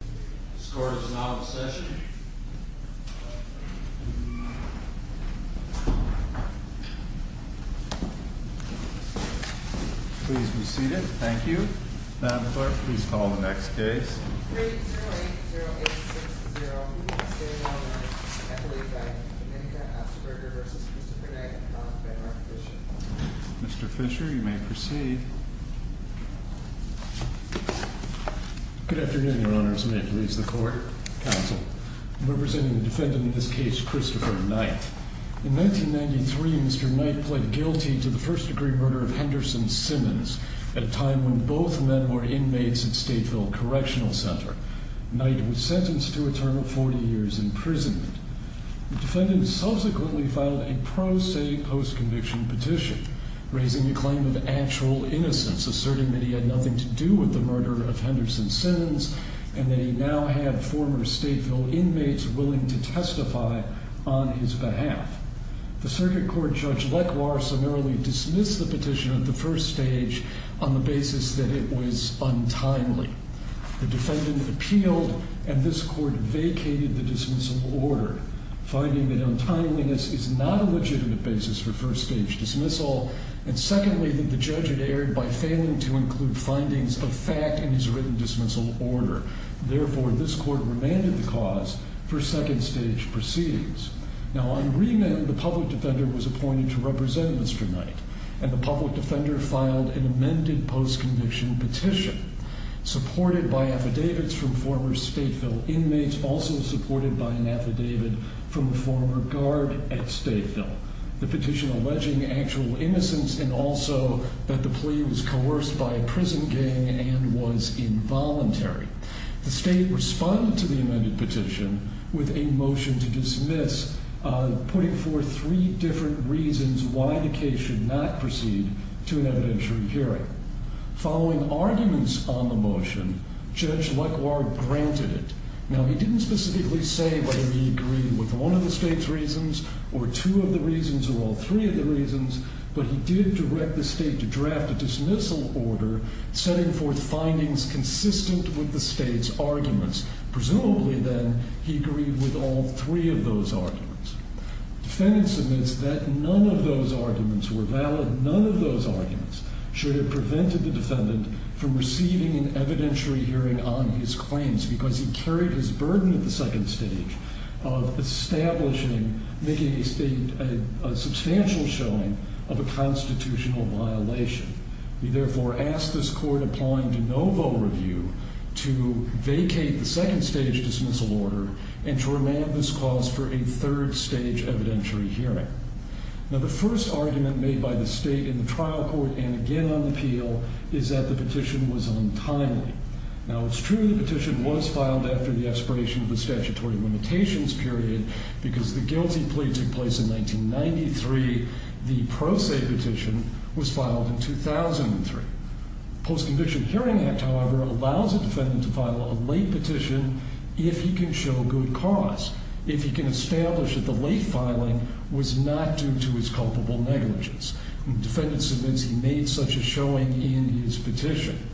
The score is now in session. Please be seated. Thank you. Madam Clerk, please call the next case. Mr. Fisher, you may proceed. Good afternoon, Your Honors. May it please the Court, Counsel. I'm representing the defendant in this case, Christopher Knight. In 1993, Mr. Knight pled guilty to the first-degree murder of Henderson Simmons at a time when both men were inmates at Stateville Correctional Center. Knight was sentenced to a term of 40 years' imprisonment. The defendant subsequently filed a pro se post-conviction petition, raising the claim of actual innocence, asserting that he had nothing to do with the murder of Henderson Simmons, and that he now had former Stateville inmates willing to testify on his behalf. The Circuit Court Judge Lekwar summarily dismissed the petition at the first stage on the basis that it was untimely. The defendant appealed, and this Court vacated the dismissal order, finding that untimeliness is not a legitimate basis for first-stage dismissal, and secondly, that the judge had erred by failing to include findings of fact in his written dismissal order. Therefore, this Court remanded the cause for second-stage proceedings. Now, on remand, the public defender was appointed to represent Mr. Knight, and the public defender filed an amended post-conviction petition, supported by affidavits from former Stateville inmates, also supported by an affidavit from a former guard at Stateville, the petition alleging actual innocence, and also that the plea was coerced by a prison gang and was involuntary. The State responded to the amended petition with a motion to dismiss, putting forth three different reasons why the case should not proceed to an evidentiary hearing. Following arguments on the motion, Judge LeCoir granted it. Now, he didn't specifically say whether he agreed with one of the State's reasons, or two of the reasons, or all three of the reasons, but he did direct the State to draft a dismissal order, setting forth findings consistent with the State's arguments. Presumably, then, he agreed with all three of those arguments. Defendants admits that none of those arguments were valid. None of those arguments should have prevented the defendant from receiving an evidentiary hearing on his claims because he carried his burden at the second stage of establishing, making a substantial showing of a constitutional violation. He therefore asked this court, applying to no vote review, to vacate the second stage dismissal order and to remand this cause for a third stage evidentiary hearing. Now, the first argument made by the State in the trial court and again on the appeal is that the petition was untimely. Now, it's true the petition was filed after the expiration of the statutory limitations period because the guilty plea took place in 1993. The pro se petition was filed in 2003. Post-conviction hearing act, however, allows a defendant to file a late petition if he can show good cause, if he can establish that the late filing was not due to his culpable negligence. Defendants admits he made such a showing in his petition.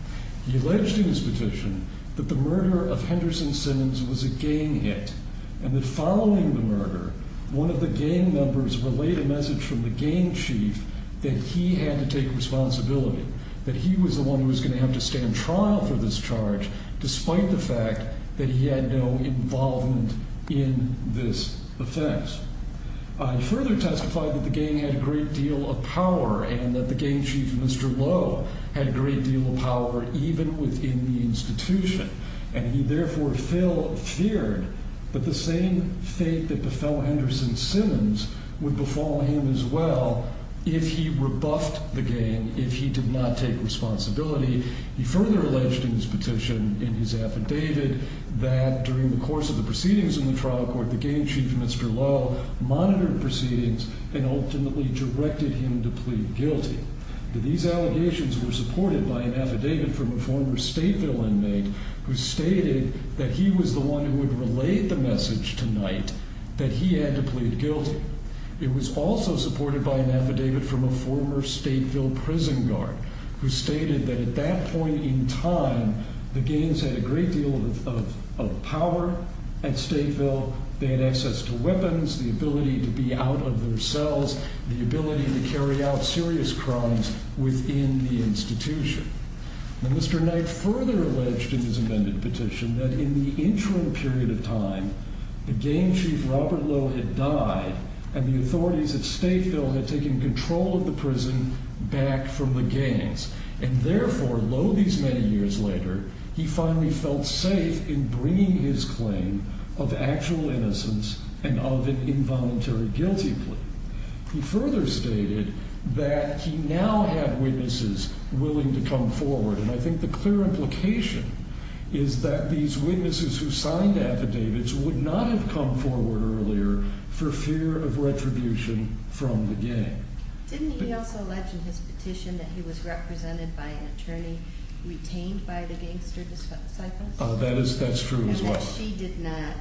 He alleged in his petition that the murder of Henderson Simmons was a gang hit and that following the murder, one of the gang members relayed a message from the gang chief that he had to take responsibility, that he was the one who was going to have to stand trial for this charge despite the fact that he had no involvement in this offense. He further testified that the gang had a great deal of power and that the gang chief, Mr. Lowe, had a great deal of power even within the institution and he therefore feared that the same fate that befell Henderson Simmons would befall him as well if he rebuffed the gang, if he did not take responsibility. He further alleged in his petition, in his affidavit, that during the course of the proceedings in the trial court, the gang chief, Mr. Lowe, monitored proceedings and ultimately directed him to plead guilty. These allegations were supported by an affidavit from a former Stateville inmate who stated that he was the one who had relayed the message tonight that he had to plead guilty. It was also supported by an affidavit from a former Stateville prison guard who stated that at that point in time, the gangs had a great deal of power at Stateville. They had access to weapons, the ability to be out of their cells, the ability to carry out serious crimes within the institution. Mr. Knight further alleged in his amended petition that in the interim period of time, the gang chief, Robert Lowe, had died and the authorities at Stateville had taken control of the prison back from the gangs, and therefore, Lowe these many years later, he finally felt safe in bringing his claim of actual innocence and of an involuntary guilty plea. He further stated that he now had witnesses willing to come forward, and I think the clear implication is that these witnesses who signed affidavits would not have come forward earlier for fear of retribution from the gang. Didn't he also allege in his petition that he was represented by an attorney retained by the gangster disciples? That's true as well. And that she did not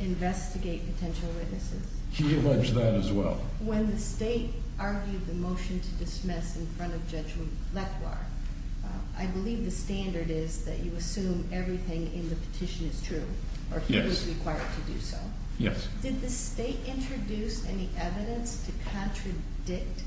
investigate potential witnesses? He alleged that as well. When the state argued the motion to dismiss in front of Judge Leclerc, I believe the standard is that you assume everything in the petition is true or he was required to do so. Yes. Did the state introduce any evidence to contradict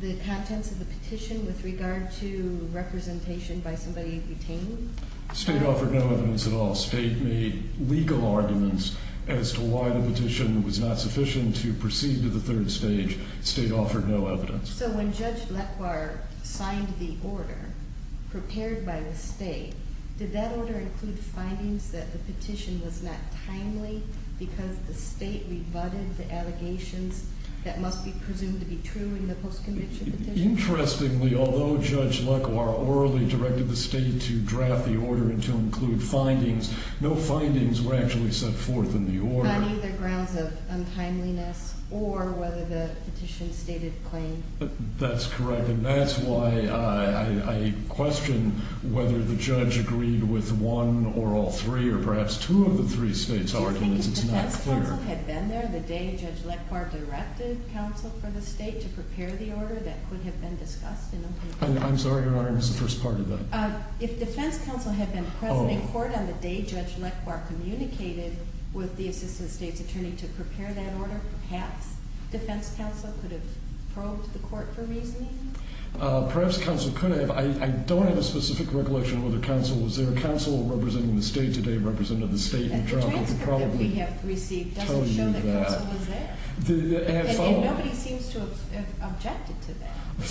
the contents of the petition with regard to representation by somebody retained? The state offered no evidence at all. The state made legal arguments as to why the petition was not sufficient to proceed to the third stage. The state offered no evidence. So when Judge Leclerc signed the order prepared by the state, did that order include findings that the petition was not timely because the state rebutted the allegations that must be presumed to be true in the post-conviction petition? Interestingly, although Judge Leclerc orally directed the state to draft the order and to include findings, no findings were actually set forth in the order. On either grounds of untimeliness or whether the petition stated plain. That's correct. And that's why I question whether the judge agreed with one or all three or perhaps two of the three states' arguments. It's not clear. Do you think the defense counsel had been there the day Judge Leclerc directed counsel for the state to prepare the order that could have been discussed? I'm sorry, Your Honor, I missed the first part of that. If defense counsel had been present in court on the day Judge Leclerc communicated with the assistant state's attorney to prepare that order, perhaps defense counsel could have probed the court for reasoning? Perhaps counsel could have. I don't have a specific recollection of whether counsel was there. Counsel representing the state today represented the state in trial. The transcript that we have received doesn't show that counsel was there. And nobody seems to have objected to that. The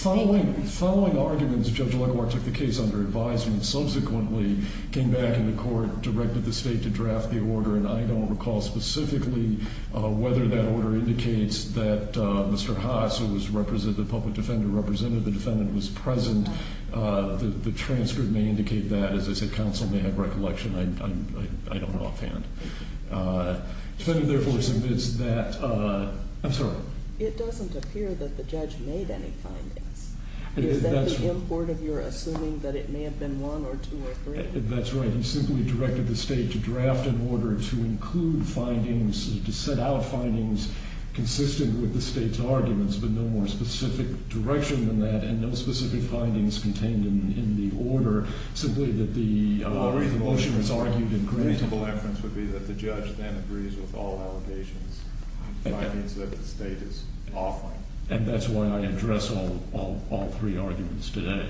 following arguments, Judge Leclerc took the case under advisement, subsequently came back into court, directed the state to draft the order, and I don't recall specifically whether that order indicates that Mr. Haas, who was the public defender represented, the defendant was present. The transcript may indicate that. As I said, counsel may have recollection. I don't know offhand. The defendant, therefore, submits that. I'm sorry. It doesn't appear that the judge made any findings. Is that the import of your assuming that it may have been one or two or three? That's right. He simply directed the state to draft an order to include findings, to set out findings consistent with the state's arguments, but no more specific direction than that, and no specific findings contained in the order, simply that the motion was argued and granted. The reasonable inference would be that the judge then agrees with all allegations, findings that the state is offering. And that's why I address all three arguments today.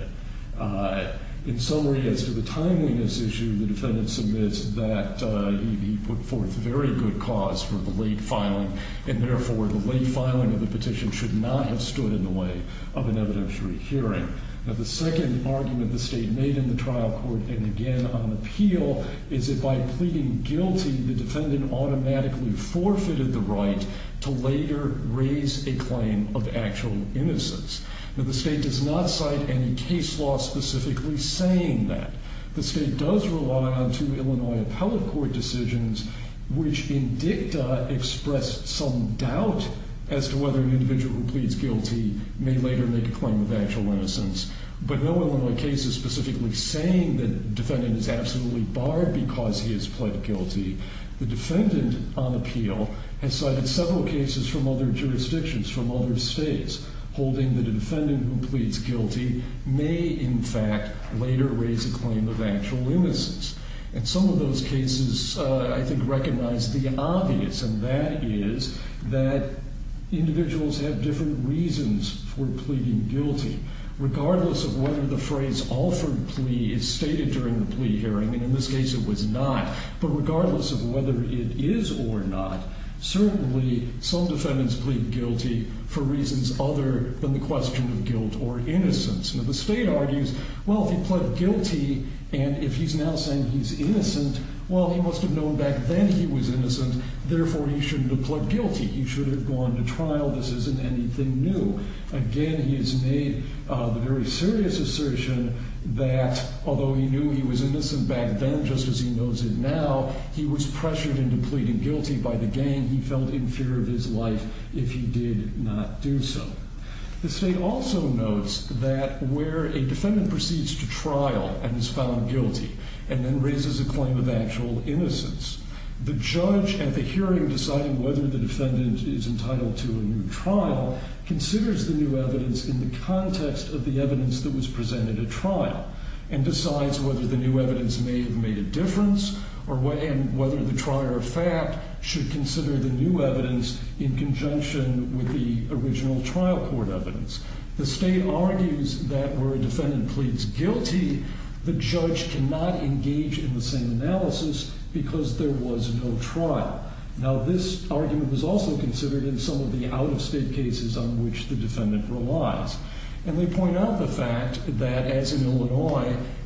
In summary, as to the timeliness issue, the defendant submits that he put forth very good cause for the late filing, and, therefore, the late filing of the petition should not have stood in the way of an evidentiary hearing. Now, the second argument the state made in the trial court and again on appeal is that by pleading guilty, the defendant automatically forfeited the right to later raise a claim of actual innocence. Now, the state does not cite any case law specifically saying that. The state does rely on two Illinois appellate court decisions, which in dicta express some doubt as to whether an individual who pleads guilty may later make a claim of actual innocence. But no Illinois case is specifically saying that the defendant is absolutely barred because he has pled guilty. The defendant on appeal has cited several cases from other jurisdictions, from other states, holding that a defendant who pleads guilty may, in fact, later raise a claim of actual innocence. And some of those cases, I think, recognize the obvious, and that is that individuals have different reasons for pleading guilty. Regardless of whether the phrase offered plea is stated during the plea hearing, and in this case it was not, but regardless of whether it is or not, certainly some defendants plead guilty for reasons other than the question of guilt or innocence. Now, the state argues, well, if he pled guilty and if he's now saying he's innocent, well, he must have known back then he was innocent, therefore he shouldn't have pled guilty. He should have gone to trial. This isn't anything new. Again, he has made the very serious assertion that although he knew he was innocent back then, just as he knows it now, he was pressured into pleading guilty by the gang. And he felt in fear of his life if he did not do so. The state also notes that where a defendant proceeds to trial and is found guilty and then raises a claim of actual innocence, the judge at the hearing deciding whether the defendant is entitled to a new trial considers the new evidence in the context of the evidence that was presented at trial and whether the trier of fact should consider the new evidence in conjunction with the original trial court evidence. The state argues that where a defendant pleads guilty, the judge cannot engage in the same analysis because there was no trial. Now, this argument was also considered in some of the out-of-state cases on which the defendant relies.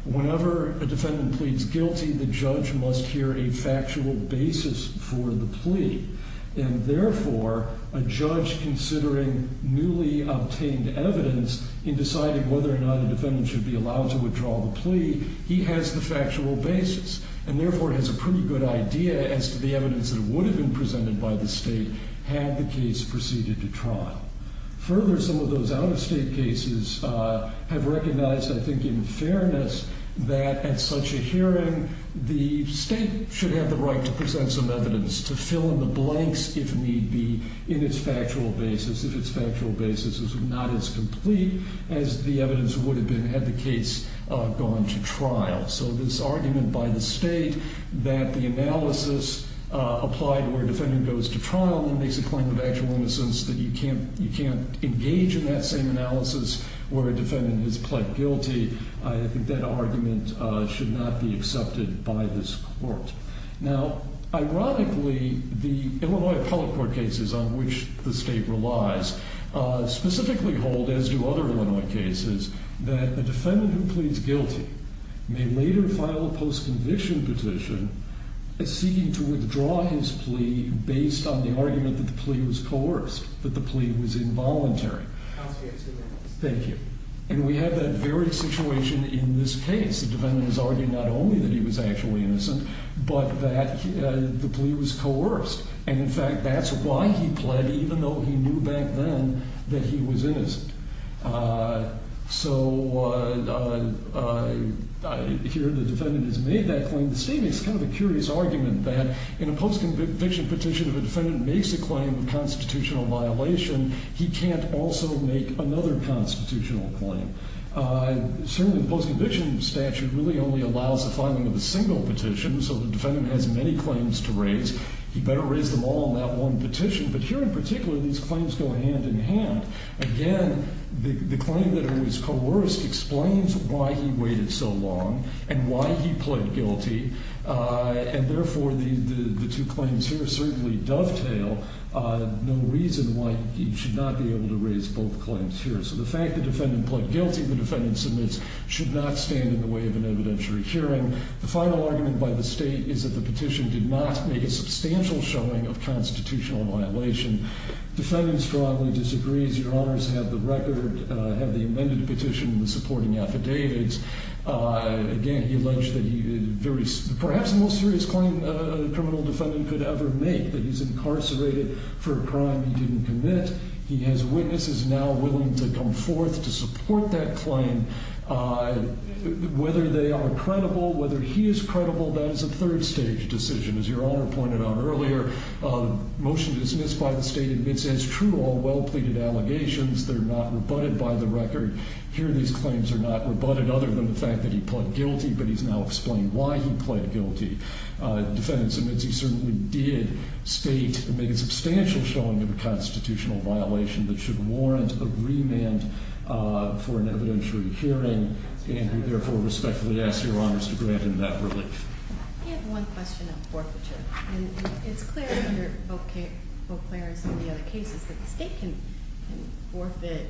Whenever a defendant pleads guilty, the judge must hear a factual basis for the plea. And therefore, a judge considering newly obtained evidence in deciding whether or not a defendant should be allowed to withdraw the plea, he has the factual basis and therefore has a pretty good idea as to the evidence that would have been presented by the state had the case proceeded to trial. Further, some of those out-of-state cases have recognized, I think in fairness, that at such a hearing, the state should have the right to present some evidence to fill in the blanks if need be in its factual basis, if its factual basis is not as complete as the evidence would have been had the case gone to trial. So this argument by the state that the analysis applied where a defendant goes to trial makes a point of actual innocence, that you can't engage in that same analysis where a defendant has pled guilty. I think that argument should not be accepted by this court. Now, ironically, the Illinois appellate court cases on which the state relies specifically hold, as do other Illinois cases, that the defendant who pleads guilty may later file a post-conviction petition seeking to withdraw his plea based on the argument that the plea was coerced, that the plea was involuntary. Counsel, you have two minutes. Thank you. And we have that very situation in this case. The defendant is arguing not only that he was actually innocent, but that the plea was coerced. And, in fact, that's why he pled, even though he knew back then that he was innocent. So here the defendant has made that claim. The state makes kind of a curious argument that in a post-conviction petition, if a defendant makes a claim of constitutional violation, he can't also make another constitutional claim. Certainly, the post-conviction statute really only allows the filing of a single petition, so the defendant has many claims to raise. He better raise them all on that one petition. But here, in particular, these claims go hand in hand. Again, the claim that it was coerced explains why he waited so long and why he pled guilty, and, therefore, the two claims here certainly dovetail no reason why he should not be able to raise both claims here. So the fact the defendant pled guilty, the defendant submits, should not stand in the way of an evidentiary hearing. The final argument by the state is that the petition did not make a substantial showing of constitutional violation. The defendant strongly disagrees. Your Honors have the record, have the amended petition, the supporting affidavits. Again, he alleged that perhaps the most serious claim a criminal defendant could ever make, that he's incarcerated for a crime he didn't commit. He has witnesses now willing to come forth to support that claim. Whether they are credible, whether he is credible, that is a third-stage decision. As Your Honor pointed out earlier, the motion dismissed by the state admits, as true, all well-pleaded allegations. They're not rebutted by the record. Here, these claims are not rebutted other than the fact that he pled guilty, but he's now explained why he pled guilty. The defendant submits he certainly did state and make a substantial showing of a constitutional violation that should warrant a remand for an evidentiary hearing, and we therefore respectfully ask Your Honors to grant him that relief. I have one question on forfeiture. It's clear under Boclero's and the other cases that the state can forfeit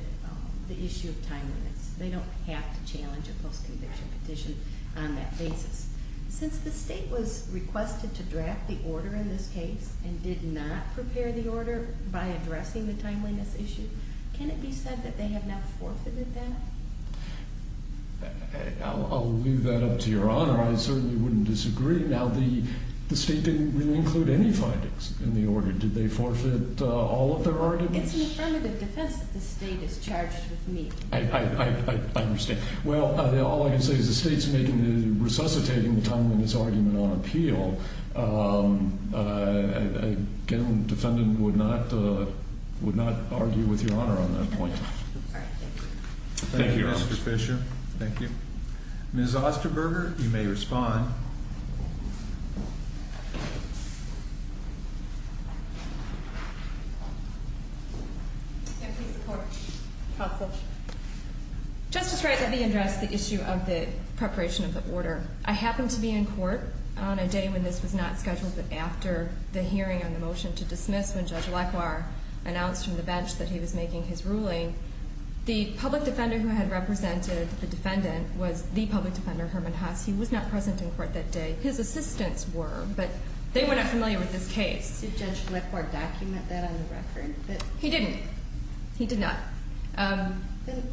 the issue of timeliness. They don't have to challenge a post-conviction petition on that basis. Since the state was requested to draft the order in this case and did not prepare the order by addressing the timeliness issue, can it be said that they have not forfeited that? I'll leave that up to Your Honor. I certainly wouldn't disagree. Now, the state didn't really include any findings in the order. Did they forfeit all of their arguments? It's an affirmative defense that the state is charged with me. I understand. Well, all I can say is the state's resuscitating the timeliness argument on appeal. Again, the defendant would not argue with Your Honor on that point. Thank you, Mr. Fisher. Thank you. Ms. Osterberger, you may respond. Justice Wright, let me address the issue of the preparation of the order. I happened to be in court on a day when this was not scheduled, but after the hearing on the motion to dismiss when Judge Lacroix announced from the bench that he was making his ruling, the public defender who had represented the defendant was the public defender, Herman Haas. He was not present in court that day. His assistants were, but they were not familiar with this case. Did Judge Lacroix document that on the record? He didn't. He did not.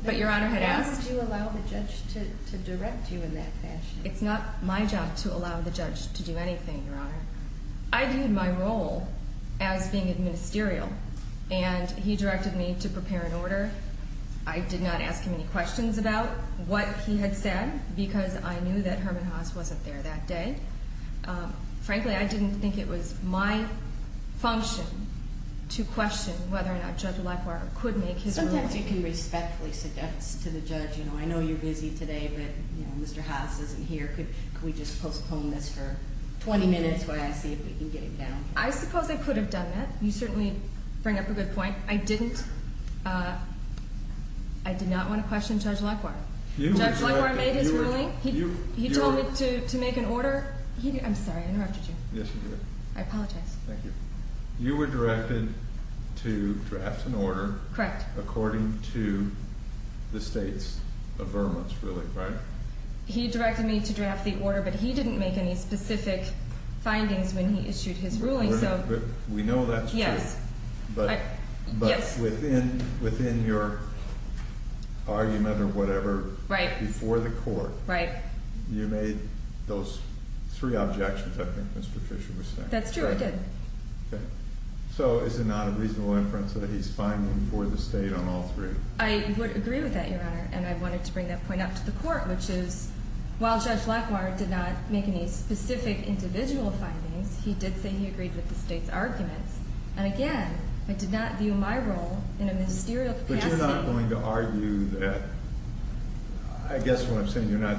But Your Honor had asked. Why did you allow the judge to direct you in that fashion? It's not my job to allow the judge to do anything, Your Honor. I viewed my role as being administerial, and he directed me to prepare an order. I did not ask him any questions about what he had said because I knew that Herman Haas wasn't there that day. Frankly, I didn't think it was my function to question whether or not Judge Lacroix could make his ruling. Sometimes you can respectfully suggest to the judge, you know, I know you're busy today, but, you know, Mr. Haas isn't here. Could we just postpone this for 20 minutes while I see if we can get it down? I suppose I could have done that. You certainly bring up a good point. I didn't. I did not want to question Judge Lacroix. Judge Lacroix made his ruling. He told me to make an order. I'm sorry, I interrupted you. Yes, you did. I apologize. Thank you. You were directed to draft an order according to the state's affirmance, really, right? He directed me to draft the order, but he didn't make any specific findings when he issued his ruling. We know that's true. Yes. But within your argument or whatever before the court, you made those three objections, I think Mr. Fisher was saying. That's true, I did. Okay. So is it not a reasonable inference that he's finding for the state on all three? I would agree with that, Your Honor, and I wanted to bring that point up to the court, which is while Judge Lacroix did not make any specific individual findings, he did say he agreed with the state's arguments, and again, I did not view my role in a ministerial capacity. But you're not going to argue that, I guess what I'm saying, you're not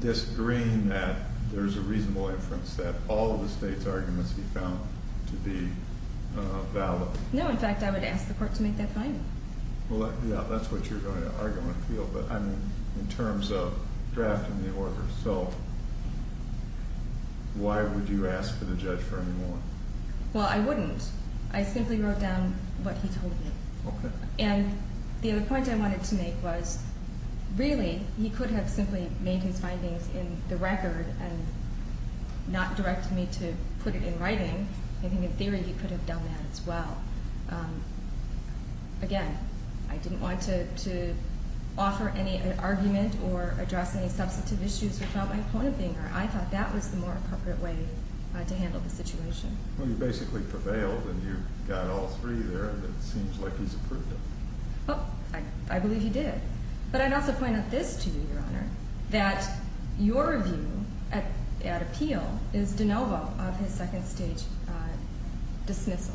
disagreeing that there's a reasonable inference that all of the state's arguments he found to be valid? No, in fact, I would ask the court to make that finding. Well, yeah, that's what you're going to argue on the field, but I mean, in terms of drafting the order. So why would you ask for the judge for any more? Well, I wouldn't. I simply wrote down what he told me. Okay. And the other point I wanted to make was really, he could have simply made his findings in the record and not directed me to put it in writing. I think in theory he could have done that as well. Again, I didn't want to offer any argument or address any substantive issues without my opponent being there. I thought that was the more appropriate way to handle the situation. Well, you basically prevailed, and you got all three there, and it seems like he's approved it. I believe he did. But I'd also point out this to you, Your Honor, that your view at appeal is de novo of his second-stage dismissal.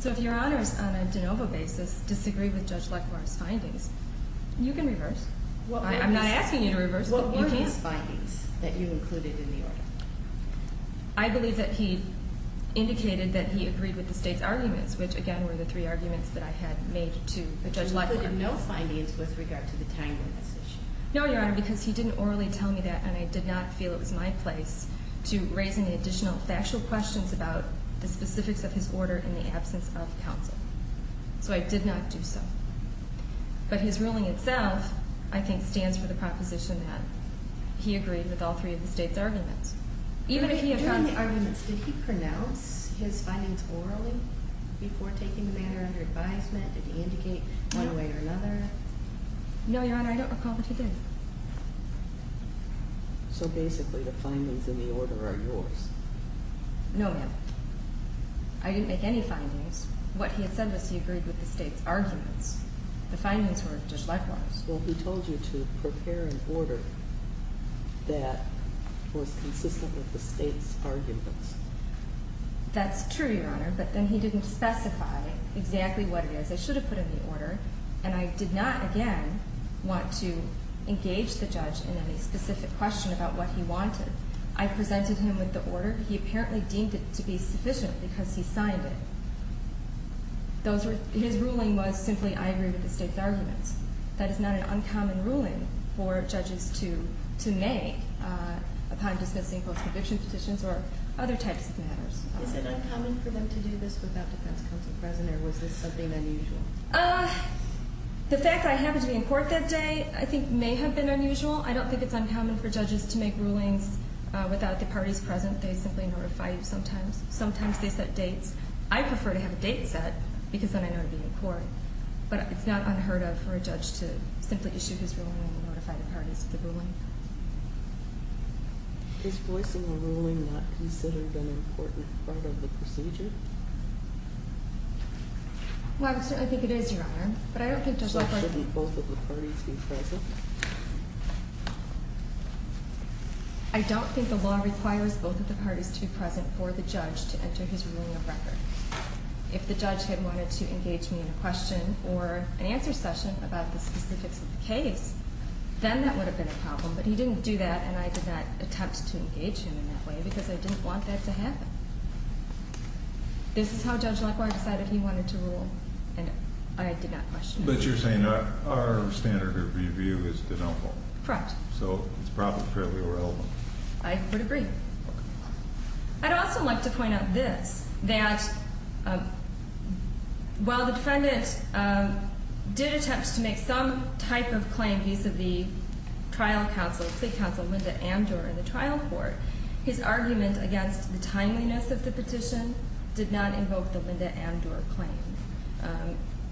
So if Your Honor is on a de novo basis disagreeing with Judge Leclerc's findings, you can reverse. I'm not asking you to reverse, but you can. What were his findings that you included in the order? I believe that he indicated that he agreed with the state's arguments, which, again, were the three arguments that I had made to Judge Leclerc. You included no findings with regard to the timing of this issue. No, Your Honor, because he didn't orally tell me that, and I did not feel it was my place to raise any additional factual questions about the specifics of his order in the absence of counsel. So I did not do so. But his ruling itself, I think, stands for the proposition that he agreed with all three of the state's arguments. During the arguments, did he pronounce his findings orally before taking the matter under advisement? Did he indicate one way or another? No, Your Honor, I don't recall that he did. So basically the findings in the order are yours. No, ma'am. I didn't make any findings. What he had said was he agreed with the state's arguments. The findings were of Judge Leclerc's. Well, he told you to prepare an order that was consistent with the state's arguments. That's true, Your Honor, but then he didn't specify exactly what it is. I should have put in the order, and I did not, again, want to engage the judge in any specific question about what he wanted. I presented him with the order. He apparently deemed it to be sufficient because he signed it. His ruling was simply, I agree with the state's arguments. That is not an uncommon ruling for judges to make upon dismissing post-conviction petitions or other types of matters. Is it uncommon for them to do this without defense counsel present, or was this something unusual? The fact that I happened to be in court that day I think may have been unusual. I don't think it's uncommon for judges to make rulings without the parties present. They simply notify you sometimes. Sometimes they set dates. I prefer to have a date set because then I know to be in court. But it's not unheard of for a judge to simply issue his ruling and notify the parties of the ruling. Is voicing a ruling not considered an important part of the procedure? Well, I certainly think it is, Your Honor. So shouldn't both of the parties be present? I don't think the law requires both of the parties to be present for the judge to enter his ruling of record. If the judge had wanted to engage me in a question or an answer session about the specifics of the case, then that would have been a problem. But he didn't do that, and I did not attempt to engage him in that way because I didn't want that to happen. This is how Judge Lacroix decided he wanted to rule, and I did not question it. But you're saying our standard of review is denial. Correct. So it's probably fairly irrelevant. I would agree. I'd also like to point out this, that while the defendant did attempt to make some type of claim vis-a-vis trial counsel, plea counsel Linda Amdor in the trial court, his argument against the timeliness of the petition did not invoke the Linda Amdor claim.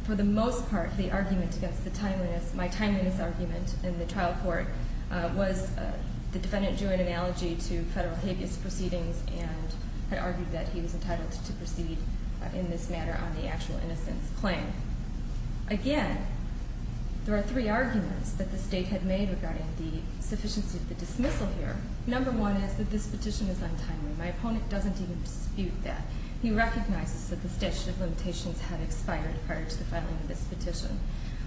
For the most part, the argument against the timeliness, my timeliness argument in the trial court, was the defendant drew an analogy to federal habeas proceedings and had argued that he was entitled to proceed in this matter on the actual innocence claim. Again, there are three arguments that the State had made regarding the sufficiency of the dismissal here. Number one is that this petition is untimely. My opponent doesn't even dispute that. He recognizes that the statute of limitations had expired prior to the filing of this petition.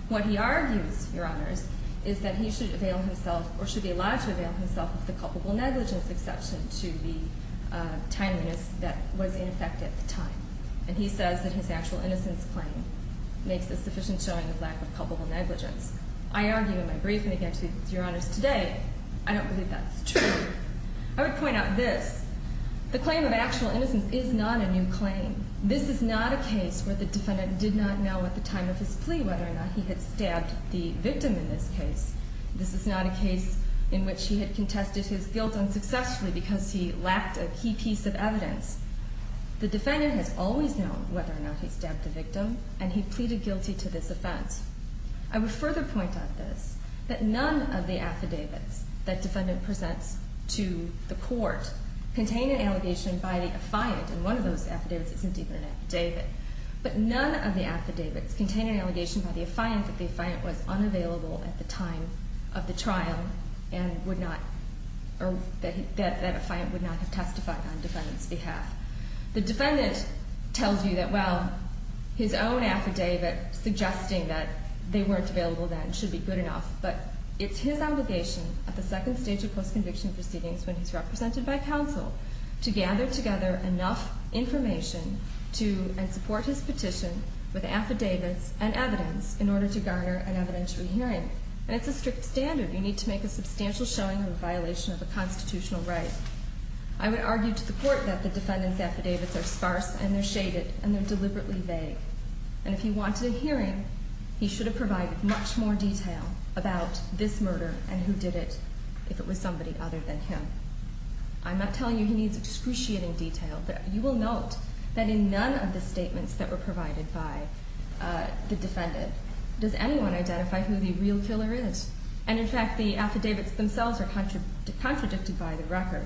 What he argues, Your Honors, is that he should avail himself or should be allowed to avail himself of the culpable negligence exception to the timeliness that was in effect at the time. And he says that his actual innocence claim makes a sufficient showing of lack of culpable negligence. I argue in my briefing against you, Your Honors, today, I don't believe that's true. I would point out this. The claim of actual innocence is not a new claim. This is not a case where the defendant did not know at the time of his plea whether or not he had stabbed the victim in this case. This is not a case in which he had contested his guilt unsuccessfully because he lacked a key piece of evidence. The defendant has always known whether or not he stabbed the victim, and he pleaded guilty to this offense. I would further point out this, that none of the affidavits that defendant presents to the court contain an allegation by the affiant. And one of those affidavits isn't even an affidavit. But none of the affidavits contain an allegation by the affiant that the affiant was unavailable at the time of the trial and would not, or that affiant would not have testified on defendant's behalf. The defendant tells you that, well, his own affidavit suggesting that they weren't available then should be good enough. But it's his obligation at the second stage of post-conviction proceedings when he's represented by counsel to gather together enough information to support his petition with affidavits and evidence in order to garner an evidentiary hearing. And it's a strict standard. You need to make a substantial showing of a violation of a constitutional right. I would argue to the court that the defendant's affidavits are sparse, and they're shaded, and they're deliberately vague. And if he wanted a hearing, he should have provided much more detail about this murder and who did it, if it was somebody other than him. I'm not telling you he needs excruciating detail. You will note that in none of the statements that were provided by the defendant does anyone identify who the real killer is. And in fact, the affidavits themselves are contradicted by the record.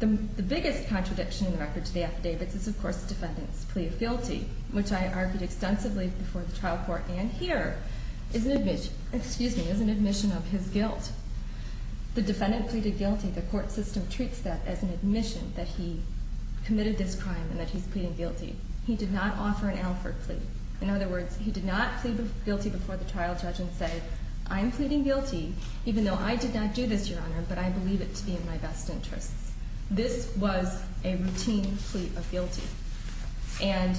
The biggest contradiction in the record to the affidavits is, of course, the defendant's plea of guilty, which I argued extensively before the trial court and here is an admission of his guilt. The defendant pleaded guilty. The court system treats that as an admission that he committed this crime and that he's pleading guilty. He did not offer an alford plea. In other words, he did not plead guilty before the trial judge and say, I'm pleading guilty, even though I did not do this, Your Honor, but I believe it to be in my best interests. This was a routine plea of guilty. And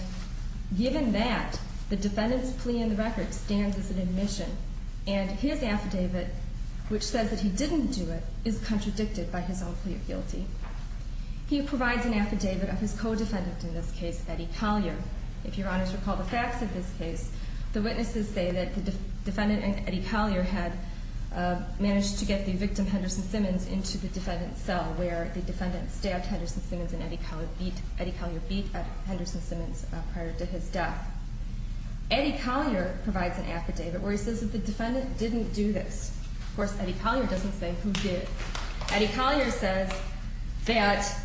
given that, the defendant's plea in the record stands as an admission. And his affidavit, which says that he didn't do it, is contradicted by his own plea of guilty. He provides an affidavit of his co-defendant in this case, Betty Collier. If Your Honors recall the facts of this case, the witnesses say that the defendant and Eddie Collier had managed to get the victim, Henderson Simmons, into the defendant's cell where the defendant stabbed Henderson Simmons and Eddie Collier beat Henderson Simmons prior to his death. Eddie Collier provides an affidavit where he says that the defendant didn't do this. Of course, Eddie Collier doesn't say who did. Eddie Collier says that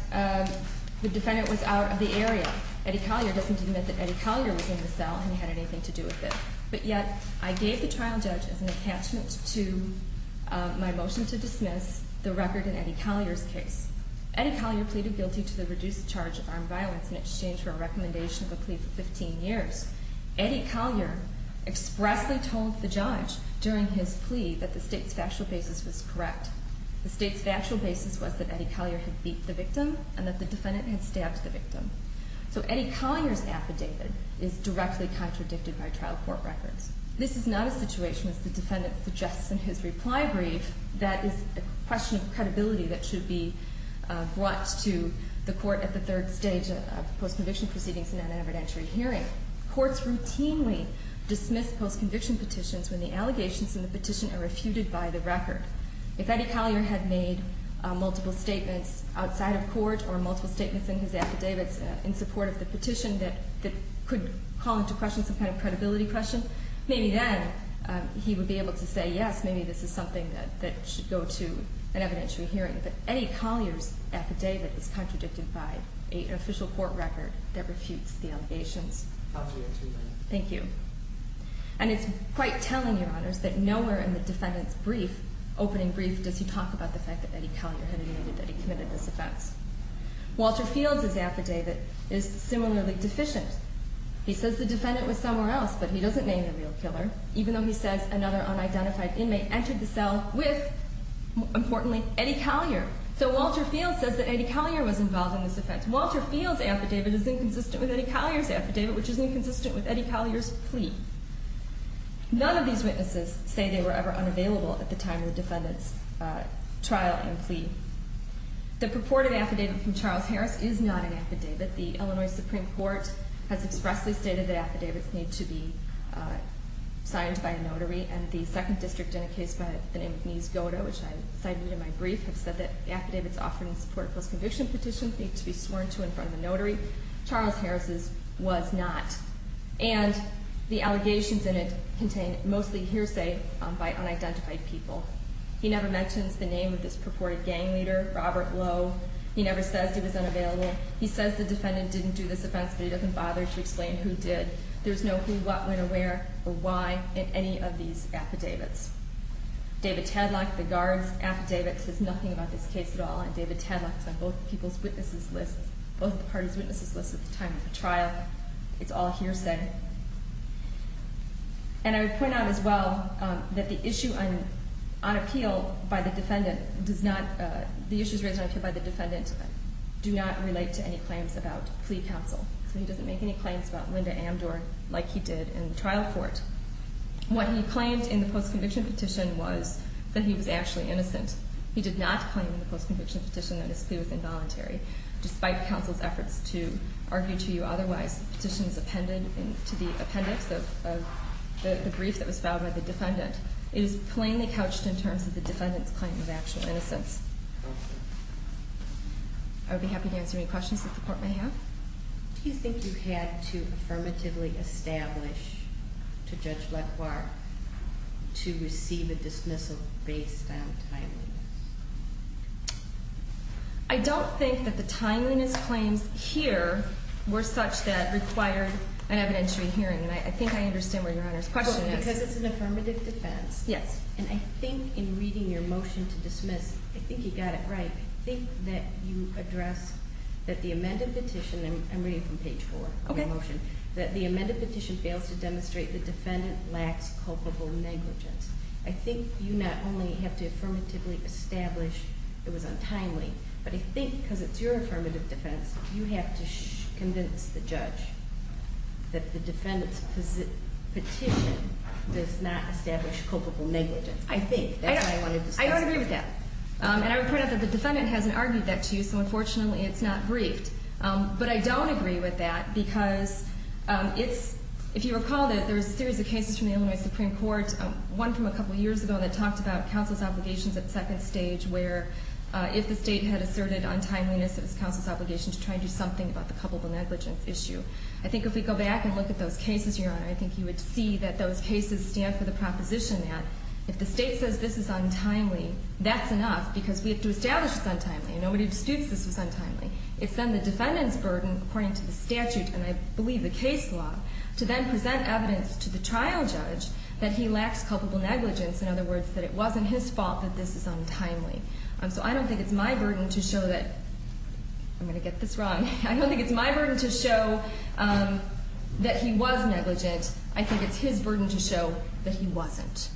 the defendant was out of the area. Eddie Collier doesn't admit that Eddie Collier was in the cell and had anything to do with it. But yet, I gave the trial judge as an attachment to my motion to dismiss the record in Eddie Collier's case. Eddie Collier pleaded guilty to the reduced charge of armed violence in exchange for a recommendation of a plea for 15 years. Eddie Collier expressly told the judge during his plea that the state's factual basis was correct. The state's factual basis was that Eddie Collier had beat the victim and that the defendant had stabbed the victim. So Eddie Collier's affidavit is directly contradicted by trial court records. This is not a situation, as the defendant suggests in his reply brief, that is a question of credibility that should be brought to the court at the third stage of post-conviction proceedings in an evidentiary hearing. Courts routinely dismiss post-conviction petitions when the allegations in the petition are refuted by the record. If Eddie Collier had made multiple statements outside of court or multiple statements in his affidavits in support of the petition that could call into question some kind of credibility question, maybe then he would be able to say, yes, maybe this is something that should go to an evidentiary hearing. But Eddie Collier's affidavit is contradicted by an official court record that refutes the allegations. Thank you. And it's quite telling, Your Honors, that nowhere in the defendant's opening brief does he talk about the fact that Eddie Collier had admitted that he committed this offense. Walter Fields' affidavit is similarly deficient. He says the defendant was somewhere else, but he doesn't name the real killer, even though he says another unidentified inmate entered the cell with, importantly, Eddie Collier. So Walter Fields says that Eddie Collier was involved in this offense. Walter Fields' affidavit is inconsistent with Eddie Collier's affidavit, which is inconsistent with Eddie Collier's plea. None of these witnesses say they were ever unavailable at the time of the defendant's trial and plea. The purported affidavit from Charles Harris is not an affidavit. The Illinois Supreme Court has expressly stated that affidavits need to be signed by a notary, and the Second District in a case by the name of Mies Goda, which I cited in my brief, have said that affidavits offered in support of post-conviction petitions need to be sworn to in front of a notary. Charles Harris's was not. And the allegations in it contain mostly hearsay by unidentified people. He never mentions the name of this purported gang leader, Robert Lowe. He never says he was unavailable. He says the defendant didn't do this offense, but he doesn't bother to explain who did. There's no who, what, when, where, or why in any of these affidavits. David Tadlock, the guard's affidavit, says nothing about this case at all, and David Tadlock is on both people's witnesses' lists, both the parties' witnesses' lists at the time of the trial. It's all hearsay. And I would point out as well that the issue on appeal by the defendant does not – the issues raised on appeal by the defendant do not relate to any claims about plea counsel. So he doesn't make any claims about Linda Amdor like he did in the trial court. What he claimed in the post-conviction petition was that he was actually innocent. He did not claim in the post-conviction petition that his plea was involuntary. Despite counsel's efforts to argue to you otherwise, the petition is appended to the appendix of the brief that was filed by the defendant. It is plainly couched in terms of the defendant's claim of actual innocence. I would be happy to answer any questions that the court may have. Do you think you had to affirmatively establish to Judge LeClerc to receive a dismissal based on timeliness? I don't think that the timeliness claims here were such that required an evidentiary hearing, and I think I understand where Your Honor's question is. Because it's an affirmative defense. Yes. And I think in reading your motion to dismiss, I think you got it right. I think that you address that the amended petition – I'm reading from page four of your motion – that the amended petition fails to demonstrate the defendant lacks culpable negligence. I think you not only have to affirmatively establish it was untimely, but I think because it's your affirmative defense, you have to convince the judge that the defendant's petition does not establish culpable negligence. I think. That's what I wanted to discuss. I don't agree with that. And I would point out that the defendant hasn't argued that to you, so unfortunately it's not briefed. But I don't agree with that because it's – if you recall, there was a series of cases from the Illinois Supreme Court, one from a couple years ago that talked about counsel's obligations at second stage, where if the state had asserted untimeliness, it was counsel's obligation to try and do something about the culpable negligence issue. I think if we go back and look at those cases, Your Honor, I think you would see that those cases stand for the proposition that if the state says this is untimely, that's enough because we have to establish it's untimely. Nobody disputes this was untimely. It's then the defendant's burden, according to the statute, and I believe the case law, to then present evidence to the trial judge that he lacks culpable negligence. In other words, that it wasn't his fault that this is untimely. So I don't think it's my burden to show that – I'm going to get this wrong. I don't think it's my burden to show that he was negligent. I think it's his burden to show that he wasn't.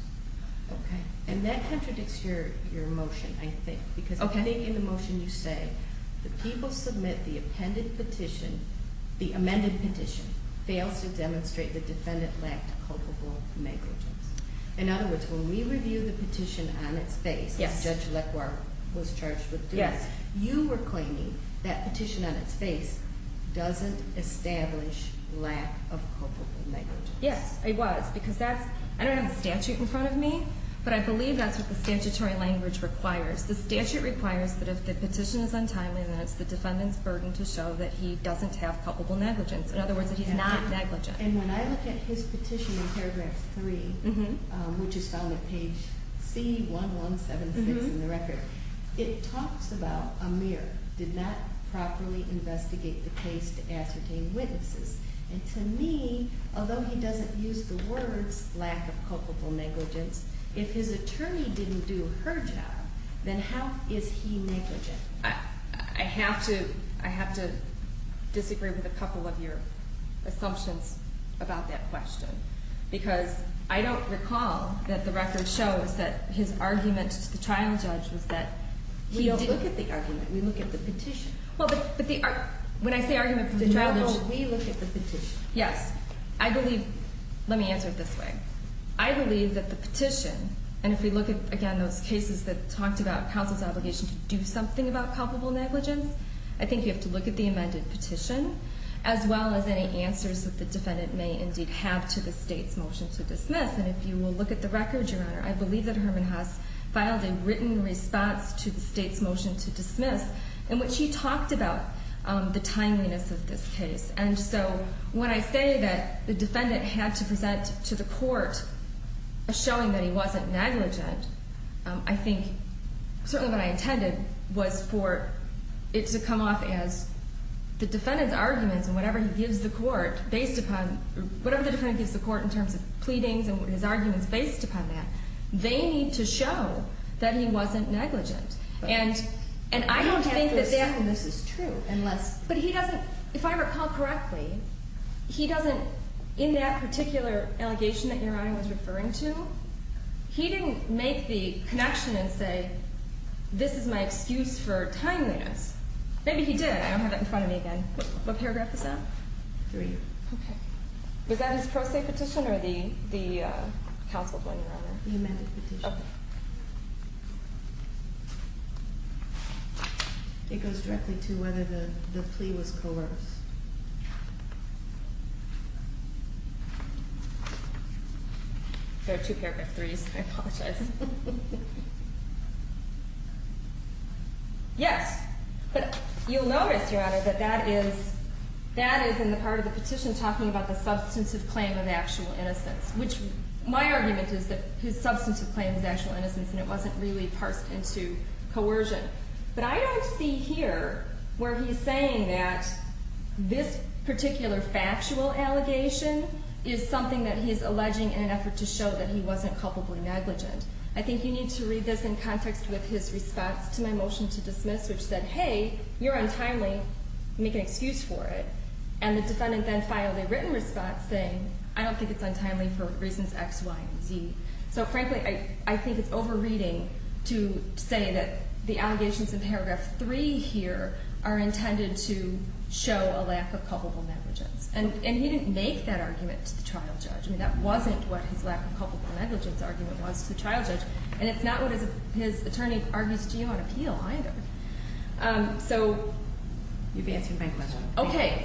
Okay. And that contradicts your motion, I think. Okay. Because I think in the motion you say the people submit the appended petition, the amended petition, fails to demonstrate the defendant lacked culpable negligence. In other words, when we review the petition on its face, as Judge Lacroix was charged with doing, you were claiming that petition on its face doesn't establish lack of culpable negligence. Yes, it was, because that's – I don't have the statute in front of me, but I believe that's what the statutory language requires. The statute requires that if the petition is untimely, then it's the defendant's burden to show that he doesn't have culpable negligence. In other words, that he's not negligent. And when I look at his petition in paragraph 3, which is found at page C1176 in the record, it talks about Amir did not properly investigate the case to ascertain witnesses. And to me, although he doesn't use the words lack of culpable negligence, if his attorney didn't do her job, then how is he negligent? I have to disagree with a couple of your assumptions about that question, because I don't recall that the record shows that his argument to the trial judge was that he didn't – We don't look at the argument. We look at the petition. Well, but the – when I say argument to the trial judge – No, no, we look at the petition. Yes. I believe – let me answer it this way. In those cases that talked about counsel's obligation to do something about culpable negligence, I think you have to look at the amended petition, as well as any answers that the defendant may indeed have to the state's motion to dismiss. And if you will look at the record, Your Honor, I believe that Herman Haas filed a written response to the state's motion to dismiss in which he talked about the timeliness of this case. And so when I say that the defendant had to present to the court a showing that he wasn't negligent, I think – certainly what I intended was for it to come off as the defendant's arguments and whatever he gives the court based upon – whatever the defendant gives the court in terms of pleadings and his arguments based upon that, they need to show that he wasn't negligent. And I don't think that that – I don't have to assume this is true unless – but he doesn't – if I recall correctly, he doesn't – in that particular allegation that Your Honor was referring to, he didn't make the connection and say, this is my excuse for timeliness. Maybe he did. I don't have that in front of me again. What paragraph is that? Three. Okay. Was that his pro se petition or the counsel's one, Your Honor? The amended petition. Okay. It goes directly to whether the plea was coerced. There are two paragraph threes. I apologize. Yes. But you'll notice, Your Honor, that that is – that is in the part of the petition talking about the substantive claim of actual innocence, which my argument is that his substantive claim was actual innocence and it wasn't really parsed into coercion. But I don't see here where he's saying that this particular factual allegation is something that he's alleging in an effort to show that he wasn't culpably negligent. I think you need to read this in context with his response to my motion to dismiss, which said, hey, you're untimely, make an excuse for it. And the defendant then filed a written response saying, I don't think it's untimely for reasons X, Y, and Z. So, frankly, I think it's overreading to say that the allegations in paragraph three here are intended to show a lack of culpable negligence. And he didn't make that argument to the trial judge. I mean, that wasn't what his lack of culpable negligence argument was to the trial judge. And it's not what his attorney argues to you on appeal either. So – You've answered my question. Okay.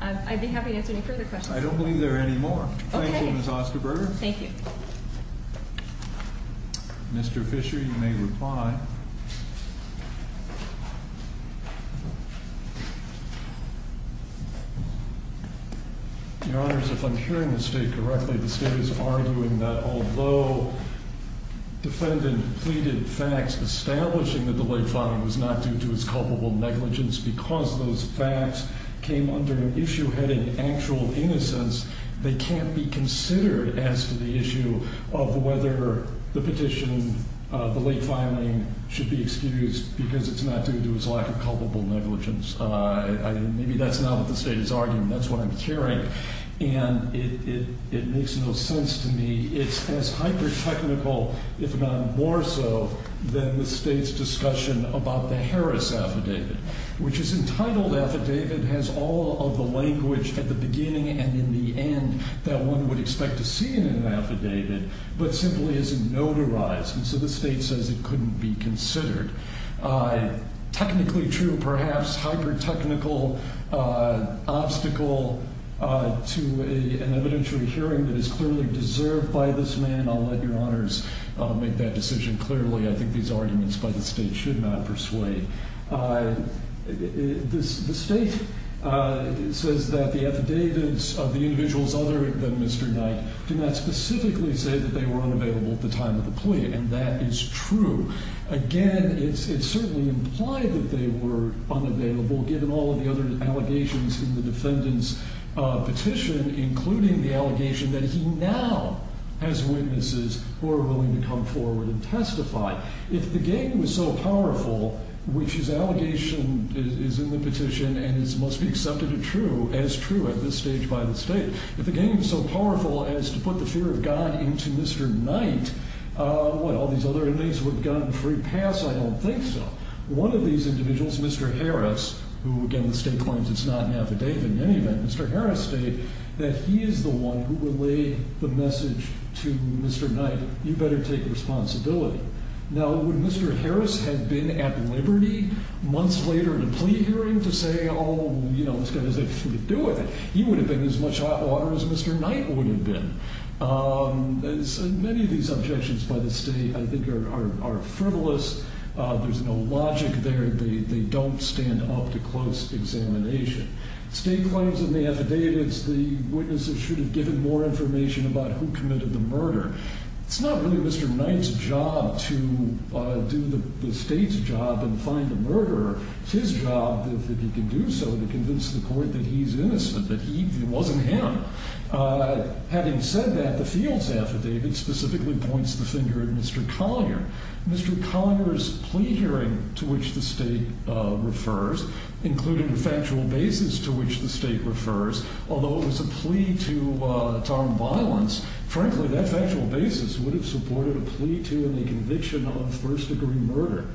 I'd be happy to answer any further questions. I don't believe there are any more. Okay. Thank you, Ms. Osterberger. Thank you. Mr. Fisher, you may reply. Your Honors, if I'm hearing the State correctly, the State is arguing that although the defendant pleaded facts establishing that the late father was not due to his culpable negligence because those facts came under an issue heading actual innocence, they can't be considered as to the issue of whether the petition, the late filing should be excused because it's not due to his lack of culpable negligence. Maybe that's not what the State is arguing. That's what I'm hearing. And it makes no sense to me. It's as hyper-technical, if not more so, than the State's discussion about the Harris Affidavit, which is entitled affidavit, has all of the language at the beginning and in the end that one would expect to see in an affidavit, but simply isn't notarized. And so the State says it couldn't be considered. Technically true, perhaps hyper-technical obstacle to an evidentiary hearing that is clearly deserved by this man. I'll let Your Honors make that decision clearly. I think these arguments by the State should not persuade. The State says that the affidavits of the individuals other than Mr. Knight do not specifically say that they were unavailable at the time of the plea, and that is true. Again, it certainly implied that they were unavailable given all of the other allegations in the defendant's petition, including the allegation that he now has witnesses who are willing to come forward and testify. Now, if the gain was so powerful, which his allegation is in the petition and must be accepted as true at this stage by the State, if the gain was so powerful as to put the fear of God into Mr. Knight, what, all these other inmates would have gotten a free pass? I don't think so. One of these individuals, Mr. Harris, who again the State claims it's not an affidavit in any event, Mr. Harris stated that he is the one who would lay the message to Mr. Knight, you better take responsibility. Now, would Mr. Harris have been at liberty months later in a plea hearing to say, oh, you know, this guy has everything to do with it? He would have been as much hot water as Mr. Knight would have been. Many of these objections by the State, I think, are frivolous. There's no logic there. They don't stand up to close examination. State claims in the affidavits the witnesses should have given more information about who committed the murder. It's not really Mr. Knight's job to do the State's job and find the murderer. It's his job, if he can do so, to convince the court that he's innocent, that it wasn't him. Having said that, the field's affidavit specifically points the finger at Mr. Collinger. Mr. Collinger's plea hearing to which the State refers, including the factual basis to which the State refers, although it was a plea to harm violence, frankly, that factual basis would have supported a plea to and a conviction of first-degree murder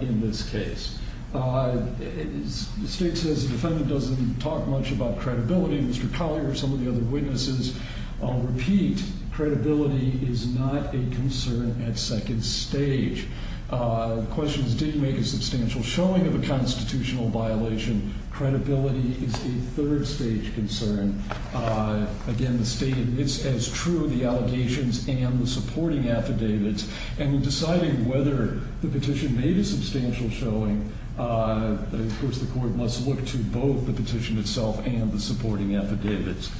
in this case. The State says the defendant doesn't talk much about credibility. Mr. Collinger and some of the other witnesses repeat, credibility is not a concern at second stage. The questions did make a substantial showing of a constitutional violation. Credibility is a third-stage concern. Again, the State admits as true the allegations and the supporting affidavits, and in deciding whether the petition made a substantial showing, of course, the court must look to both the petition itself and the supporting affidavits.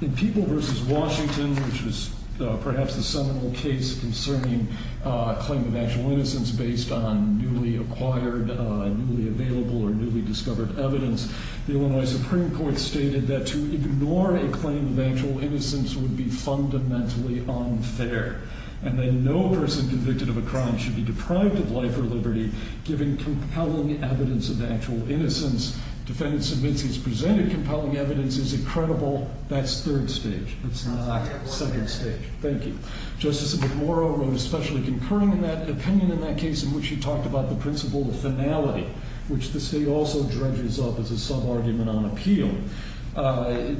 In People v. Washington, which was perhaps the seminal case concerning a claim of actual innocence based on newly acquired, newly available, or newly discovered evidence, the Illinois Supreme Court stated that to ignore a claim of actual innocence would be fundamentally unfair, and that no person convicted of a crime should be deprived of life or liberty given compelling evidence of actual innocence. Defendant submits he's presented compelling evidence as incredible. That's third stage. That's not second stage. Thank you. Justice McMorrow wrote a specially concurring opinion in that case in which he talked about the principle of finality, which the State also dredges up as a sub-argument on appeal.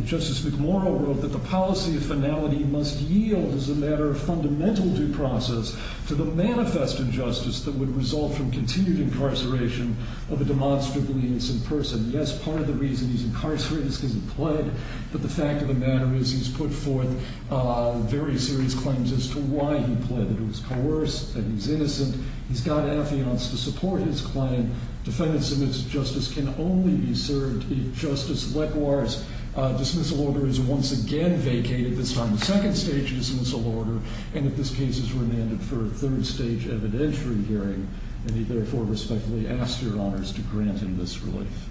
Justice McMorrow wrote that the policy of finality must yield, as a matter of fundamental due process, to the manifest injustice that would result from continued incarceration of a demonstrably innocent person. Yes, part of the reason he's incarcerated is because he pled, but the fact of the matter is he's put forth very serious claims as to why he pled, that he was coerced, that he was innocent. He's got affiance to support his claim. Defendant submits that justice can only be served if Justice Letwar's dismissal order is once again vacated, this time the second stage dismissal order, and that this case is remanded for a third stage evidentiary hearing, and he therefore respectfully asks your honors to grant him this relief.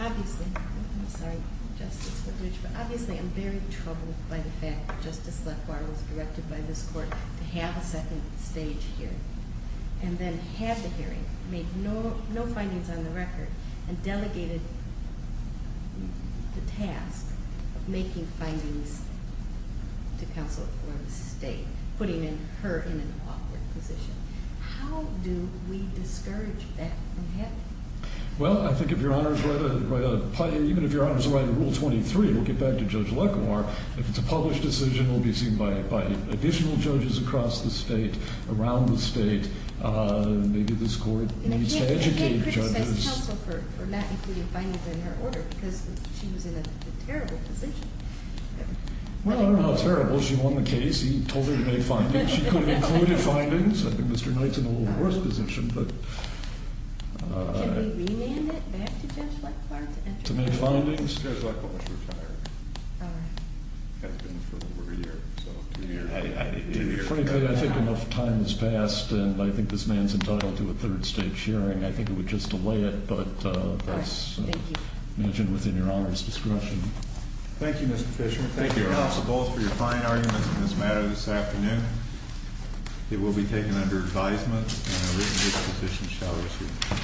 Obviously, I'm sorry, Justice Whitledge, but obviously I'm very troubled by the fact that Justice Letwar was directed by this court to have a second stage hearing, and then have the hearing, make no findings on the record, and delegated the task of making findings to counsel for the state, putting her in an awkward position. How do we discourage that from happening? Well, I think if your honors write a rule 23, we'll get back to Judge Letwar. If it's a published decision, it will be seen by additional judges across the state, around the state. Maybe this court needs to educate judges. He didn't criticize counsel for not including findings in her order because she was in a terrible position. Well, not terrible. She won the case. He told her to make findings. She could have included findings. I think Mr. Knight's in a little worse position. Can we remand it back to Judge Letwar? To make findings? Judge Letwar is retired. Has been for over a year, so two years. Frankly, I think enough time has passed, and I think this man's entitled to a third stage hearing. I think it would just delay it, but that's mentioned within your honors' discretion. Thank you, Mr. Fishman. Thank you, counsel, both for your fine arguments in this matter this afternoon. It will be taken under advisement, and a written disposition shall receive it.